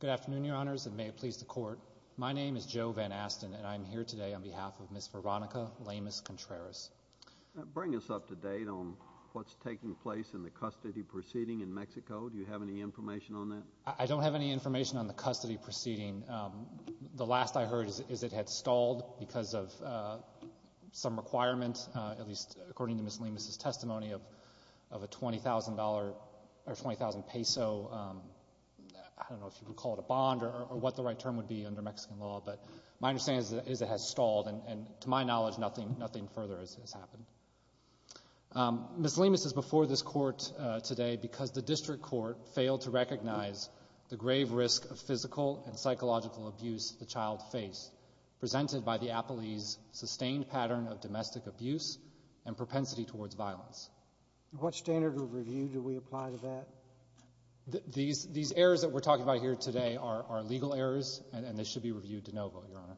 Good afternoon, Your Honors, and may it please the Court. My name is Joe Van Asten, and I'm here today on behalf of Ms. Veronica Lemus Contreras. Bring us up to date on what's taking place in the custody proceeding in Mexico. Do you have any information on that? I don't have any information on the custody proceeding. The last I heard is it had stalled because of some requirement, at least according to Ms. Lemus's testimony, of a $20,000 or 20,000 peso, I don't know if you would call it a bond or what the right term would be under Mexican law. But my understanding is it has stalled, and to my knowledge, nothing further has happened. Ms. Lemus is before this Court today because the district court failed to recognize the grave risk of physical and psychological abuse the child faced, presented by the appellee's sustained pattern of domestic abuse and propensity towards violence. What standard of review do we apply to that? These errors that we're talking about here today are legal errors, and they should be reviewed de novo, Your Honor.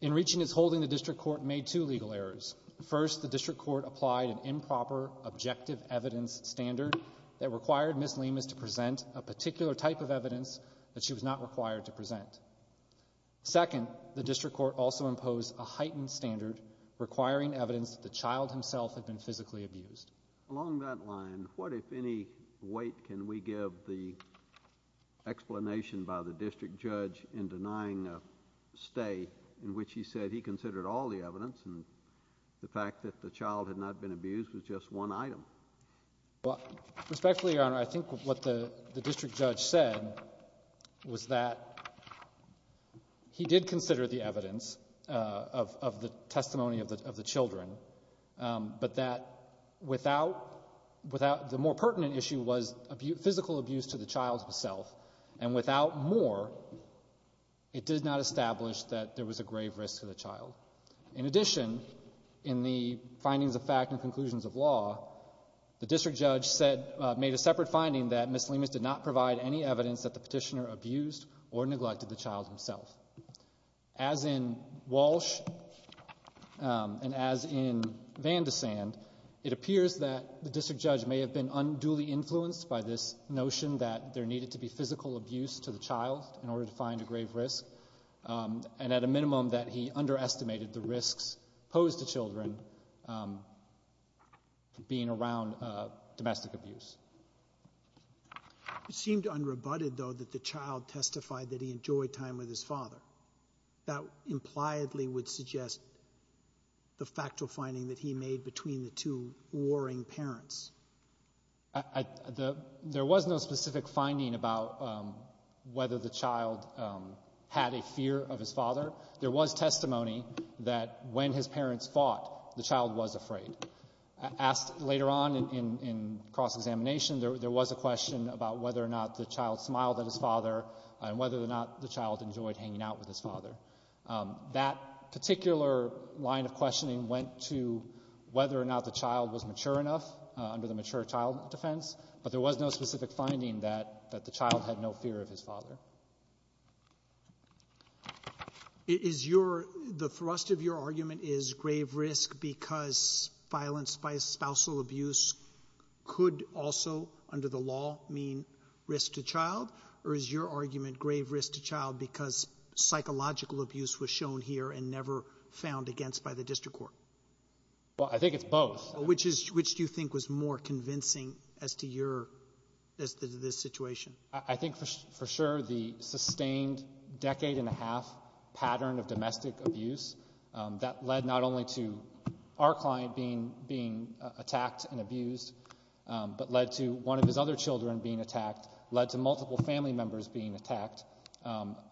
In reaching its holding, the district court made two legal errors. First, the district court applied an improper objective evidence standard that required Ms. Lemus to present a particular type of evidence that she was not required to present. Second, the district court also imposed a heightened standard requiring evidence that the child himself had been physically abused. Along that line, what, if any, weight can we give the explanation by the district judge in denying a stay in which he said he considered all the evidence and the fact that the child had not been abused was just one item? Respectfully, Your Honor, I think what the district judge said was that he did consider the evidence of the testimony of the children, but that without the more pertinent issue was physical abuse to the child himself, and without more, it did not establish that there was a grave risk to the child. In addition, in the findings of fact and conclusions of law, the district judge said, made a separate finding that Ms. Lemus did not provide any evidence that the petitioner abused or neglected the child himself. As in Walsh and as in Van de Sand, it appears that the district judge may have been unduly influenced by this notion that there needed to be physical abuse to the child in order to find a grave risk, and at a minimum that he underestimated the risks posed to children being around domestic abuse. It seemed unrebutted, though, that the child testified that he enjoyed time with his father. That impliedly would suggest the factual finding that he made between the two warring parents. There was no specific finding about whether the child had a fear of his father. There was testimony that when his parents fought, the child was afraid. Asked later on in cross-examination, there was a question about whether or not the child smiled at his father and whether or not the child enjoyed hanging out with his father. That particular line of questioning went to whether or not the child was mature enough under the mature child defense, but there was no specific finding that the child had no fear of his father. Is your — the thrust of your argument is grave risk because violence by spousal abuse could also, under the law, mean risk to child? Or is your argument grave risk to child because psychological abuse was shown here and never found against by the district court? Well, I think it's both. Which is — which do you think was more convincing as to your — as to this situation? I think, for sure, the sustained decade-and-a-half pattern of domestic abuse that led not only to our client being — being attacked and abused, but led to one of his other children being attacked, led to multiple family members being attacked,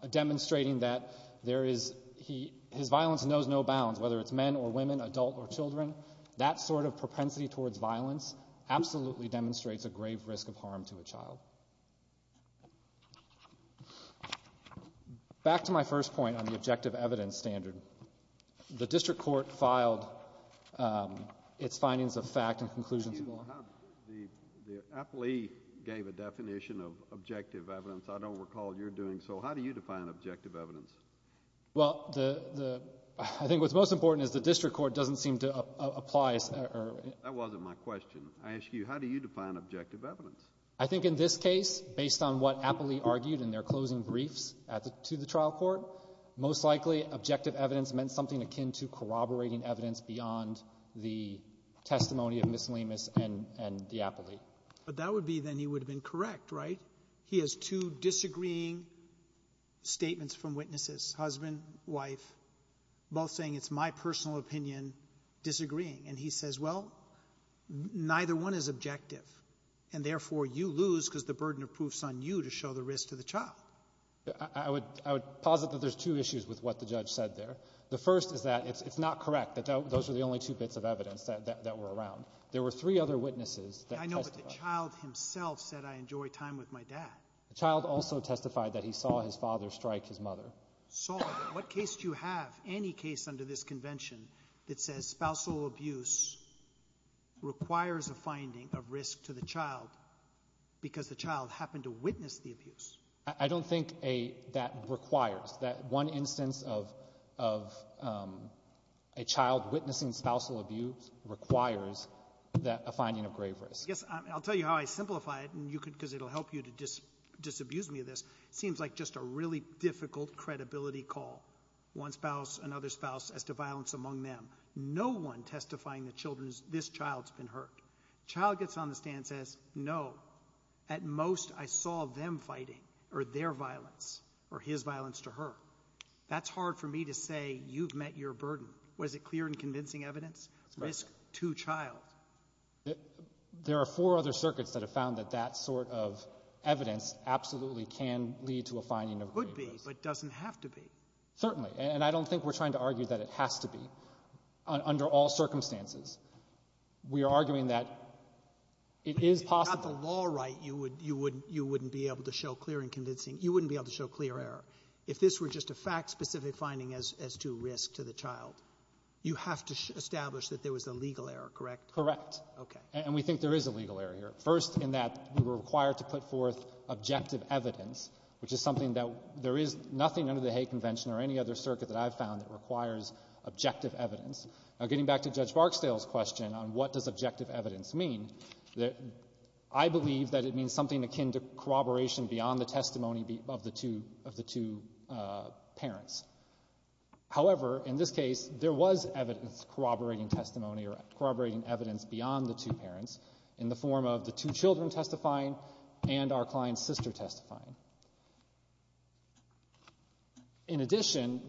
demonstrating that there is — he — his violence knows no bounds, whether it's men or women, adult or children. That sort of propensity towards violence absolutely demonstrates a grave risk of harm to a child. Back to my first point on the objective evidence standard. The district court filed its findings of fact and conclusions of law. You have — the — the appellee gave a definition of objective evidence. I don't recall your doing so. How do you define objective evidence? Well, the — the — I think what's most important is the district court doesn't seem to apply or — That wasn't my question. I ask you, how do you define objective evidence? I think in this case, based on what appellee argued in their closing briefs at the — to the trial court, most likely objective evidence meant something akin to corroborating evidence beyond the testimony of Miss Lemus and — and the appellee. But that would be then he would have been correct, right? He has two disagreeing statements from witnesses, husband, wife, both saying, it's my personal opinion, disagreeing. And he says, well, neither one is objective, and therefore you lose because the burden of proof is on you to show the risk to the child. I would — I would posit that there's two issues with what the judge said there. The first is that it's — it's not correct, that those are the only two bits of evidence that — that were around. There were three other witnesses that testified. The child himself said, I enjoy time with my dad. The child also testified that he saw his father strike his mother. Saw. What case do you have, any case under this convention, that says spousal abuse requires a finding of risk to the child because the child happened to witness the abuse? I don't think a — that requires. That one instance of — of a child witnessing spousal abuse requires that — a finding of grave risk. I guess I'll tell you how I simplify it, and you can — because it'll help you to dis — disabuse me of this. It seems like just a really difficult credibility call, one spouse, another spouse, as to violence among them. No one testifying that children's — this child's been hurt. The child gets on the stand and says, no, at most I saw them fighting or their violence or his violence to her. That's hard for me to say you've met your burden. Was it clear and convincing evidence? That's correct. Risk to child. There are four other circuits that have found that that sort of evidence absolutely can lead to a finding of grave risk. Could be, but doesn't have to be. Certainly. And I don't think we're trying to argue that it has to be. Under all circumstances, we are arguing that it is possible. If you got the law right, you wouldn't — you wouldn't be able to show clear and convincing — you wouldn't be able to show clear error. If this were just a fact-specific finding as — as to risk to the child, you have to establish that there was a legal error, correct? Correct. Okay. And we think there is a legal error here. First, in that we were required to put forth objective evidence, which is something that — there is nothing under the Hague Convention or any other circuit that I've found that requires objective evidence. Now, getting back to Judge Barksdale's question on what does objective evidence mean, I believe that it means something akin to corroboration beyond the testimony of the two — of the two parents. However, in this case, there was evidence corroborating testimony or corroborating evidence beyond the two parents in the form of the two children testifying and our client's sister testifying. In addition,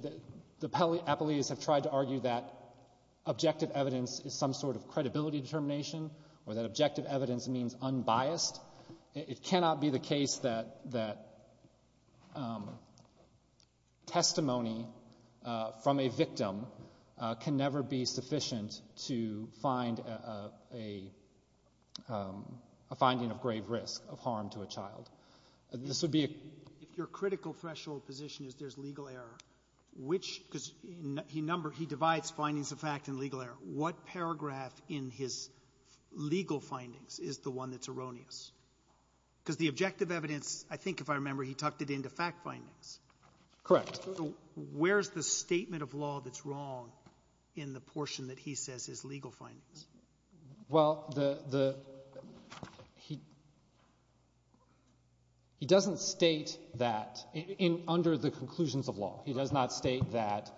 the appellees have tried to argue that objective evidence is some sort of credibility determination or that objective evidence means unbiased. It cannot be the case that — that testimony from a victim can never be sufficient to find a — a finding of grave risk, of harm to a child. This would be a — If your critical threshold position is there's legal error, which — because he number — he divides findings of fact and legal error. What paragraph in his legal findings is the one that's erroneous? Because the objective evidence, I think if I remember, he tucked it into fact findings. Correct. So where's the statement of law that's wrong in the portion that he says is legal findings? Well, the — he — he doesn't state that in — under the conclusions of law. He does not state that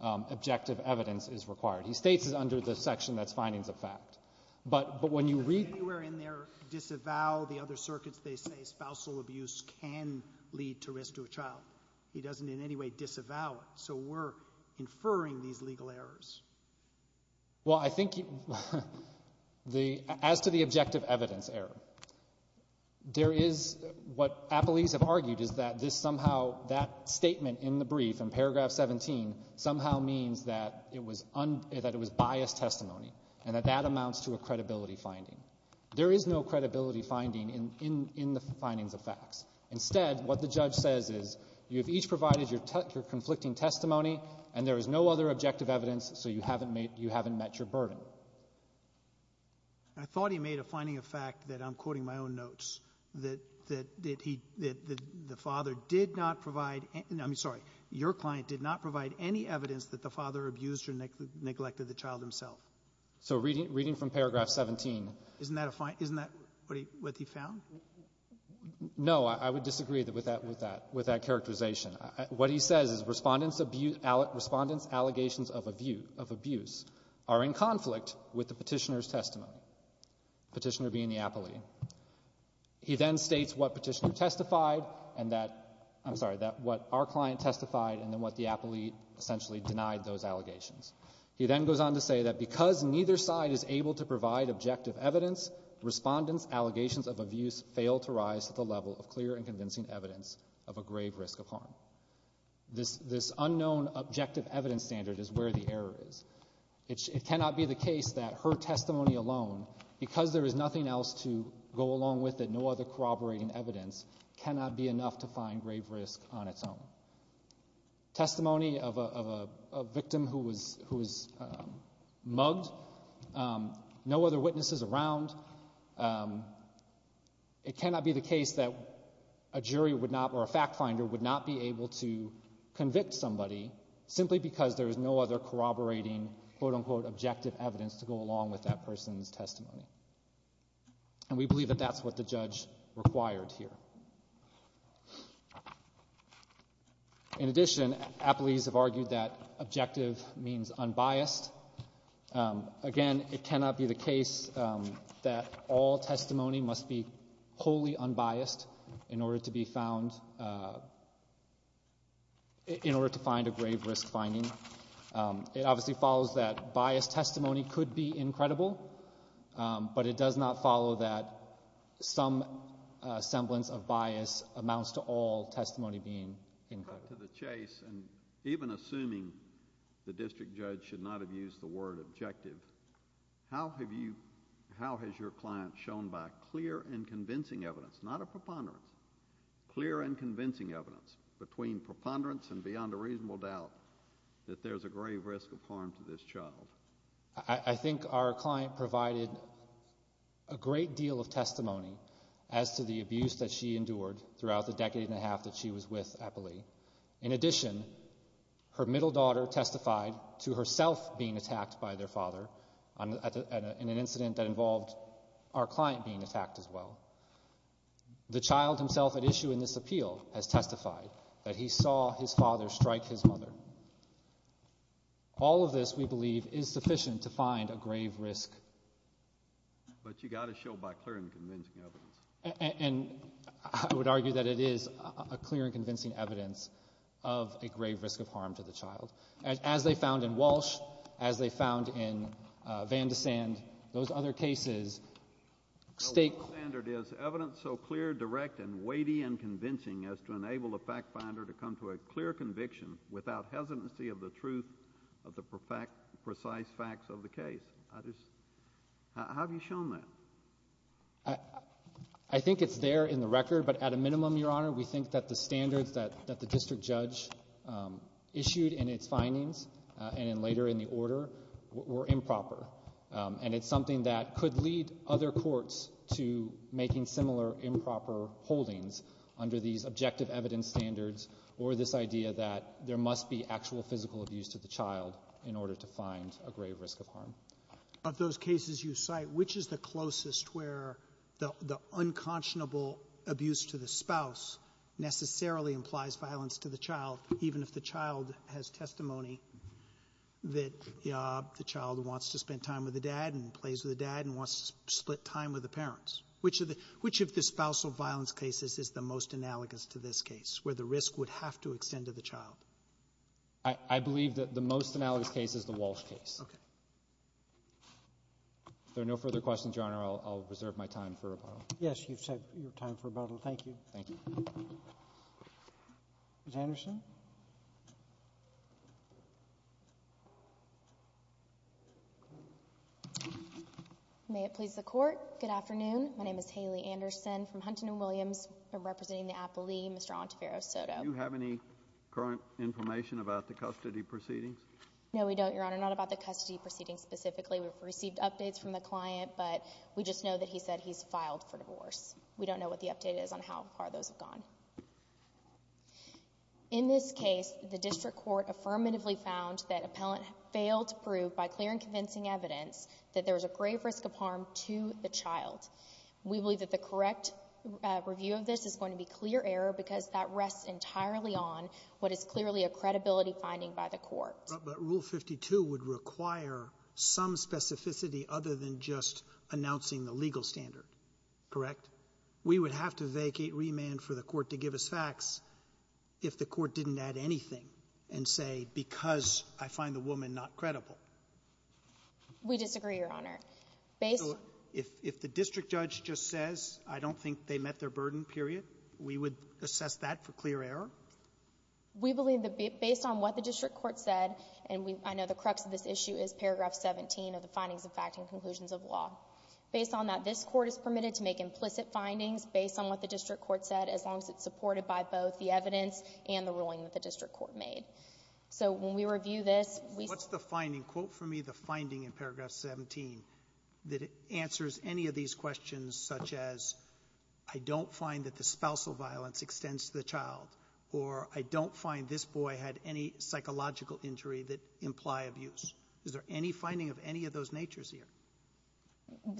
objective evidence is required. He states it under the section that's findings of fact. But — but when you read — Does he anywhere in there disavow the other circuits that say spousal abuse can lead to risk to a child? He doesn't in any way disavow it. So we're inferring these legal errors. Well, I think the — as to the objective evidence error, there is — what appellees have argued is that this somehow — that statement in the brief in paragraph 17 somehow means that it was un — that it was biased testimony and that that amounts to a credibility finding. There is no credibility finding in — in the findings of facts. Instead, what the judge says is you have each provided your conflicting testimony and there is no other objective evidence, so you haven't made — you haven't met your burden. I thought he made a finding of fact that I'm quoting my own notes, that — that he — that the father did not provide — I'm sorry. Your client did not provide any evidence that the father abused or neglected the child himself. So reading — reading from paragraph 17 — Isn't that a — isn't that what he — what he found? No. I would disagree with that — with that — with that characterization. What he says is Respondent's abuse — Respondent's allegations of abuse are in conflict with the Petitioner's testimony, Petitioner being the appellee. He then states what Petitioner testified and that — I'm sorry, that what our client testified and then what the appellee essentially denied those allegations. He then goes on to say that because neither side is able to provide objective evidence, Respondent's allegations of abuse fail to rise to the level of clear and convincing evidence of a grave risk of harm. This — this unknown objective evidence standard is where the error is. It cannot be the case that her testimony alone, because there is nothing else to go along with it, no other corroborating evidence, cannot be enough to find grave risk on its own. Testimony of a victim who was — who was mugged, no other witnesses around. It cannot be the case that a jury would not — or a fact-finder would not be able to find, quote-unquote, objective evidence to go along with that person's testimony. And we believe that that's what the judge required here. In addition, appellees have argued that objective means unbiased. Again, it cannot be the case that all testimony must be wholly unbiased in order to be found — in order to find a grave risk finding. It obviously follows that biased testimony could be incredible, but it does not follow that some semblance of bias amounts to all testimony being incredible. Back to the chase, and even assuming the district judge should not have used the word objective, how have you — how has your client shown by clear and convincing evidence, not a preponderance, clear and convincing evidence between preponderance and beyond a reasonable doubt that there's a grave risk of harm to this child? I think our client provided a great deal of testimony as to the abuse that she endured throughout the decade and a half that she was with appellee. In addition, her middle daughter testified to herself being attacked by their father in an incident that involved our client being attacked as well. The child himself at issue in this appeal has testified that he saw his father strike his mother. All of this, we believe, is sufficient to find a grave risk. But you got to show by clear and convincing evidence. And I would argue that it is a clear and convincing evidence of a grave risk of harm to the child. As they found in Walsh, as they found in Van de Sand, those other cases — The standard is evidence so clear, direct, and weighty and convincing as to enable a fact finder to come to a clear conviction without hesitancy of the truth of the precise facts of the case. How have you shown that? I think it's there in the record, but at a minimum, Your Honor, we think that the standards that the district judge issued in its findings and later in the order were improper. And it's something that could lead other courts to making similar improper holdings under these objective evidence standards or this idea that there must be actual physical abuse to the child in order to find a grave risk of harm. Of those cases you cite, which is the closest where the unconscionable abuse to the spouse necessarily implies violence to the child, even if the child has testimony that the child wants to spend time with the dad and plays with the dad and wants to split time with the parents? Which of the — which of the spousal violence cases is the most analogous to this case where the risk would have to extend to the child? I believe that the most analogous case is the Walsh case. Okay. If there are no further questions, Your Honor, I'll reserve my time for rebuttal. Yes. You've set your time for rebuttal. Thank you. Thank you. Ms. Anderson? May it please the Court, good afternoon. My name is Haley Anderson from Huntington Williams. I'm representing the appellee, Mr. Alantavarro Soto. Do you have any current information about the custody proceedings? No, we don't, Your Honor. Not about the custody proceedings specifically. We've received updates from the client, but we just know that he said he's filed for divorce. We don't know what the update is on how far those have gone. In this case, the district court affirmatively found that appellant failed to prove by clear and convincing evidence that there was a grave risk of harm to the child. We believe that the correct review of this is going to be clear error because that rests entirely on what is clearly a credibility finding by the court. But Rule 52 would require some specificity other than just announcing the legal standard, correct? We would have to vacate remand for the court to give us facts if the court didn't add anything and say because I find the woman not credible. We disagree, Your Honor. So if the district judge just says I don't think they met their burden, period, we would assess that for clear error? We believe that based on what the district court said, and I know the crux of this issue is paragraph 17 of the findings of fact and conclusions of law. Based on that, this Court is permitted to make implicit findings based on what the district court said as long as it's supported by both the evidence and the ruling that the district court made. So when we review this, we see the findings. What's the finding? Quote for me the finding in paragraph 17 that answers any of these questions such as I don't find that the spousal violence extends to the child, or I don't find this boy had any psychological injury that imply abuse. Is there any finding of any of those natures here?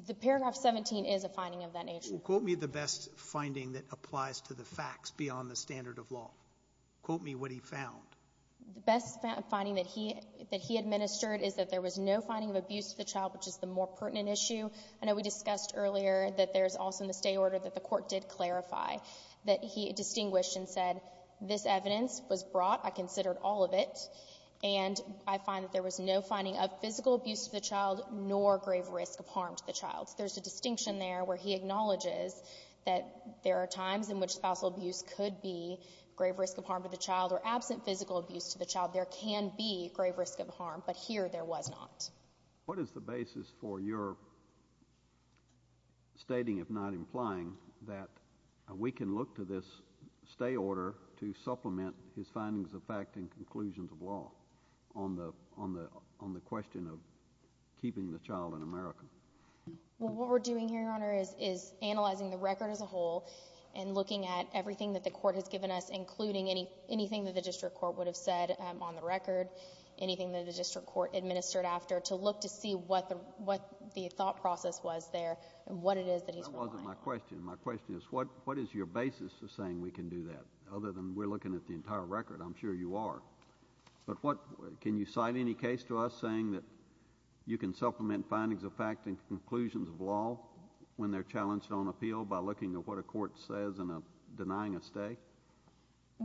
The paragraph 17 is a finding of that nature. Well, quote me the best finding that applies to the facts beyond the standard of law. Quote me what he found. The best finding that he administered is that there was no finding of abuse to the child, which is the more pertinent issue. I know we discussed earlier that there's also in the stay order that the Court did clarify, that he distinguished and said this evidence was brought. I considered all of it. And I find that there was no finding of physical abuse to the child nor grave risk of harm to the child. There's a distinction there where he acknowledges that there are times in which spousal abuse could be grave risk of harm to the child or absent physical abuse to the child. There can be grave risk of harm, but here there was not. What is the basis for your stating, if not implying, that we can look to this stay order to supplement his findings of fact and conclusions of law? On the question of keeping the child in America. Well, what we're doing here, Your Honor, is analyzing the record as a whole and looking at everything that the Court has given us, including anything that the district court would have said on the record, anything that the district court administered after, to look to see what the thought process was there and what it is that he's relying on. That wasn't my question. My question is what is your basis for saying we can do that? Other than we're looking at the entire record. I'm sure you are. But what, can you cite any case to us saying that you can supplement findings of fact and conclusions of law when they're challenged on appeal by looking at what a court says and denying a stay?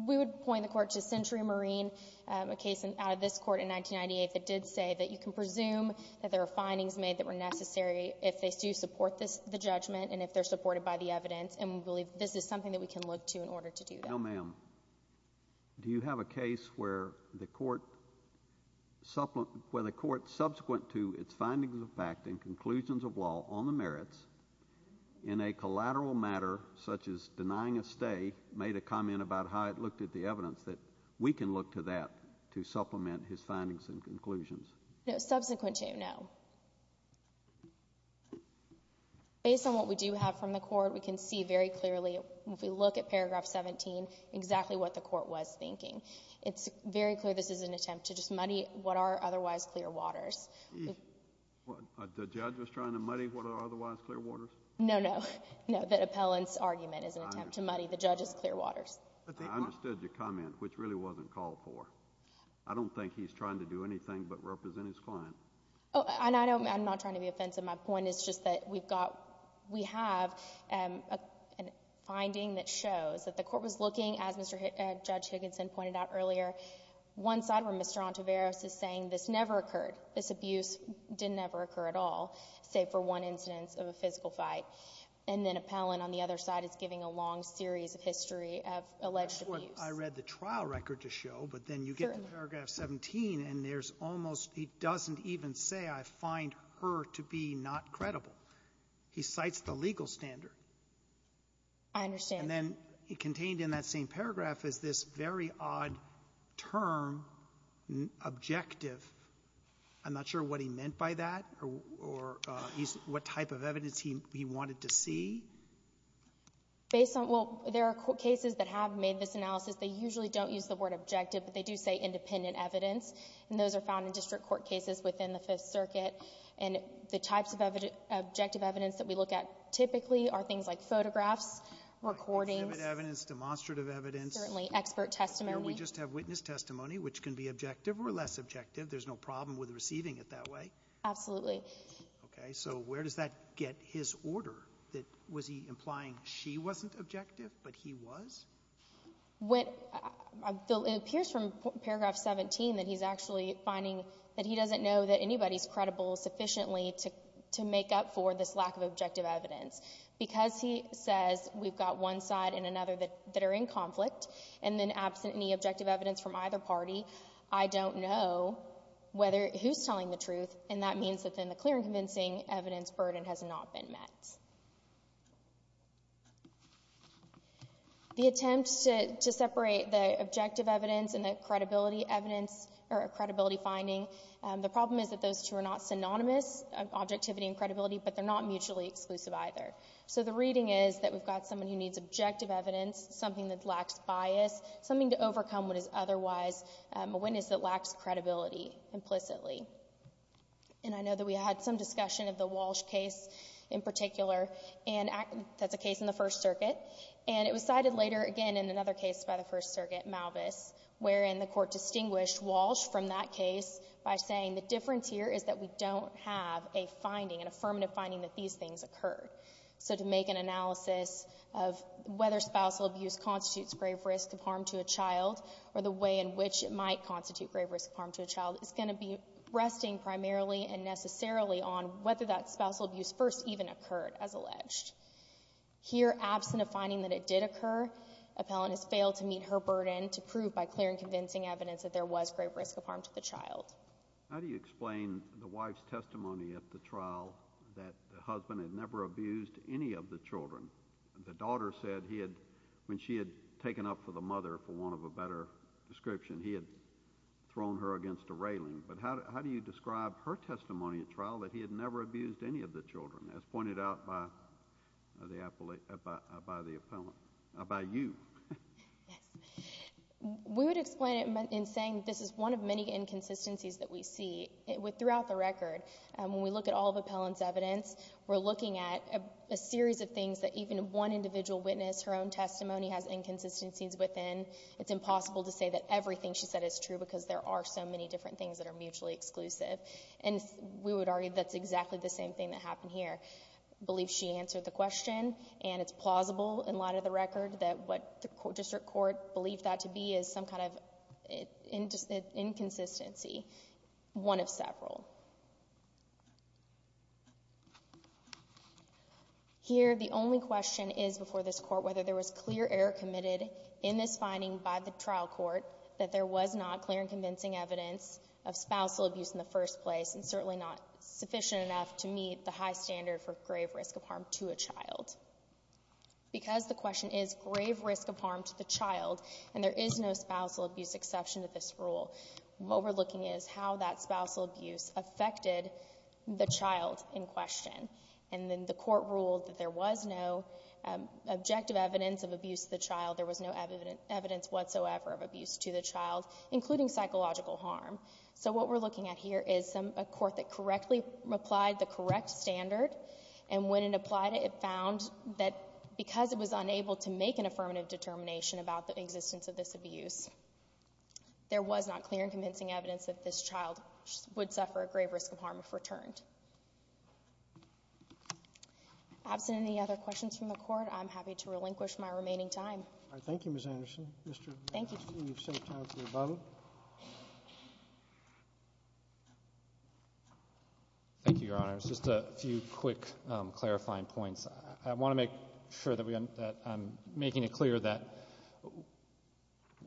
We would point the court to Century Marine, a case out of this court in 1998 that did say that you can presume that there were findings made that were necessary if they do support the judgment and if they're supported by the evidence and we believe this is something that we can look to in order to do that. No, ma'am. Do you have a case where the court subsequent to its findings of fact and conclusions of law on the merits in a collateral matter such as denying a stay made a comment about how it looked at the evidence that we can look to that to supplement his findings and conclusions? No, subsequent to, no. Based on what we do have from the court, we can see very clearly if we look at Century Marine, exactly what the court was thinking. It's very clear this is an attempt to just muddy what are otherwise clear waters. The judge was trying to muddy what are otherwise clear waters? No, no. No, the appellant's argument is an attempt to muddy the judge's clear waters. I understood your comment, which really wasn't called for. I don't think he's trying to do anything but represent his client. I'm not trying to be offensive. My point is just that we've got we have a finding that shows that the court was looking, as Judge Higginson pointed out earlier, one side where Mr. Ontiveros is saying this never occurred, this abuse didn't ever occur at all, save for one incidence of a physical fight, and then appellant on the other side is giving a long series of history of alleged abuse. That's what I read the trial record to show, but then you get to paragraph 17, and there's almost he doesn't even say, I find her to be not credible. He cites the legal standard. I understand. And then contained in that same paragraph is this very odd term, objective. I'm not sure what he meant by that or what type of evidence he wanted to see. Based on what there are cases that have made this analysis, they usually don't use the word objective, but they do say independent evidence, and those are found in district court cases within the Fifth Circuit. And the types of objective evidence that we look at typically are things like photographs, recordings. Exhibit evidence, demonstrative evidence. Certainly. Expert testimony. Here we just have witness testimony, which can be objective or less objective. There's no problem with receiving it that way. Absolutely. Okay. So where does that get his order? Was he implying she wasn't objective, but he was? It appears from paragraph 17 that he's actually finding that he doesn't know that anybody's credible sufficiently to make up for this lack of objective evidence. Because he says we've got one side and another that are in conflict and then absent any objective evidence from either party, I don't know who's telling the truth, and that means that then the clear and convincing evidence burden has not been met. Next slide, please. The attempt to separate the objective evidence and the credibility evidence or credibility finding, the problem is that those two are not synonymous, objectivity and credibility, but they're not mutually exclusive either. So the reading is that we've got someone who needs objective evidence, something that lacks bias, something to overcome what is otherwise a witness that lacks credibility implicitly. And I know that we had some discussion of the Walsh case in particular, and that's a case in the First Circuit. And it was cited later again in another case by the First Circuit, Malvis, wherein the Court distinguished Walsh from that case by saying the difference here is that we don't have a finding, an affirmative finding that these things occurred. So to make an analysis of whether spousal abuse constitutes grave risk of harm to a child or the way in which it might constitute grave risk of harm to a child is going to be resting primarily and necessarily on whether that spousal abuse first even occurred, as alleged. Here, absent a finding that it did occur, appellant has failed to meet her burden to prove by clear and convincing evidence that there was grave risk of harm to the child. How do you explain the wife's testimony at the trial that the husband had never abused any of the children? The daughter said he had, when she had taken up for the mother for want of a better description, he had thrown her against a railing. But how do you describe her testimony at trial that he had never abused any of the children, as pointed out by the appellant, by you? Yes. We would explain it in saying this is one of many inconsistencies that we see. Throughout the record, when we look at all of the appellant's evidence, we're looking at a series of things that even one individual witness, her own testimony has inconsistencies within. It's impossible to say that everything she said is true because there are so many different things that are mutually exclusive. And we would argue that's exactly the same thing that happened here. I believe she answered the question, and it's plausible in light of the record that what the district court believed that to be is some kind of inconsistency, one of several. Here, the only question is before this court whether there was clear error committed in this finding by the trial court that there was not clear and convincing evidence of spousal abuse in the first place, and certainly not sufficient enough to meet the high standard for grave risk of harm to a child. Because the question is grave risk of harm to the child, and there is no spousal abuse exception to this rule, what we're looking at is how that spousal abuse affected the child in question. And then the court ruled that there was no objective evidence of abuse to the child. There was no evidence whatsoever of abuse to the child, including psychological harm. So what we're looking at here is a court that correctly applied the correct standard, and when it applied it, it found that because it was unable to make an affirmative determination about the existence of this abuse, there was not clear and convincing evidence that this child would suffer a grave risk of harm if Absent any other questions from the Court, I'm happy to relinquish my remaining time. Thank you, Ms. Anderson. Thank you, Justice Sotomayor. Thank you, Your Honors. Just a few quick clarifying points. I want to make sure that I'm making it clear that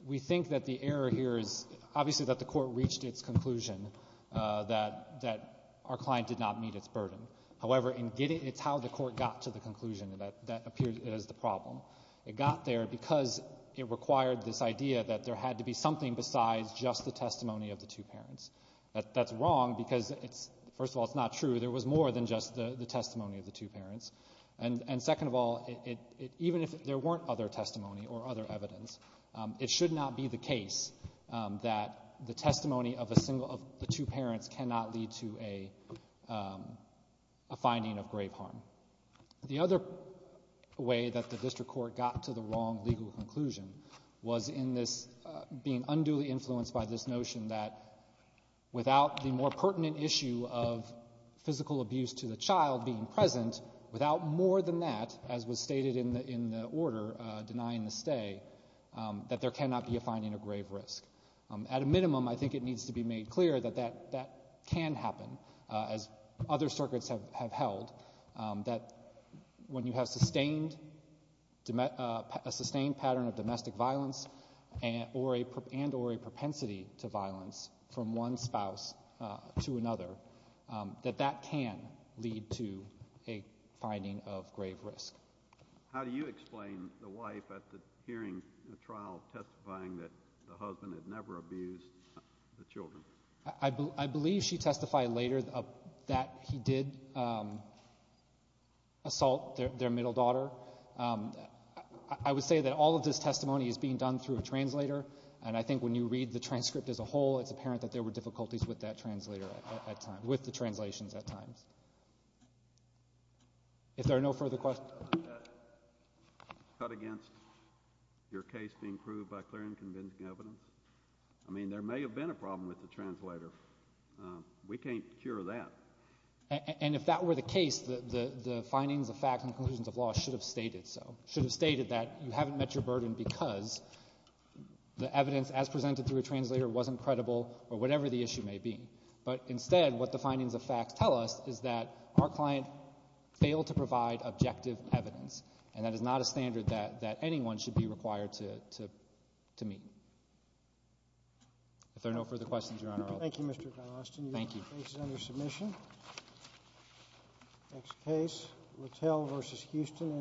we think that the error here is obviously that the Court reached its conclusion that our client did not meet its burden. However, it's how the Court got to the conclusion that appeared as the problem. It got there because it required this idea that there had to be something besides just the testimony of the two parents. That's wrong because, first of all, it's not true. There was more than just the testimony of the two parents. And second of all, even if there weren't other testimony or other evidence, it should not be the case that the testimony of a single of the two parents cannot lead to a finding of grave harm. The other way that the district court got to the wrong legal conclusion was in this being unduly influenced by this notion that without the more pertinent issue of physical abuse to the child being present, without more than that, as was stated in the order denying the stay, that there cannot be a finding of grave risk. At a minimum, I think it needs to be made clear that that can happen, as other circuits have held, that when you have a sustained pattern of domestic violence and or a propensity to violence from one spouse to another, that that can lead to a finding of grave risk. How do you explain the wife at the hearing, the trial, testifying that the husband had never abused the children? I believe she testified later that he did assault their middle daughter. I would say that all of this testimony is being done through a translator, and I think when you read the transcript as a whole, it's apparent that there were difficulties with that translator at times, with the translations at times. If there are no further questions. Is that against your case being proved by clear and convincing evidence? I mean, there may have been a problem with the translator. We can't cure that. And if that were the case, the findings of fact and conclusions of law should have stated so, should have stated that you haven't met your burden because the evidence as presented through a translator wasn't credible or whatever the issue may be. But instead, what the findings of fact tell us is that our client failed to provide objective evidence, and that is not a standard that anyone should be required to meet. If there are no further questions, Your Honor, I'll close. Thank you, Mr. Galostin. Thank you. Your case is under submission. Next case, Littell v. Houston.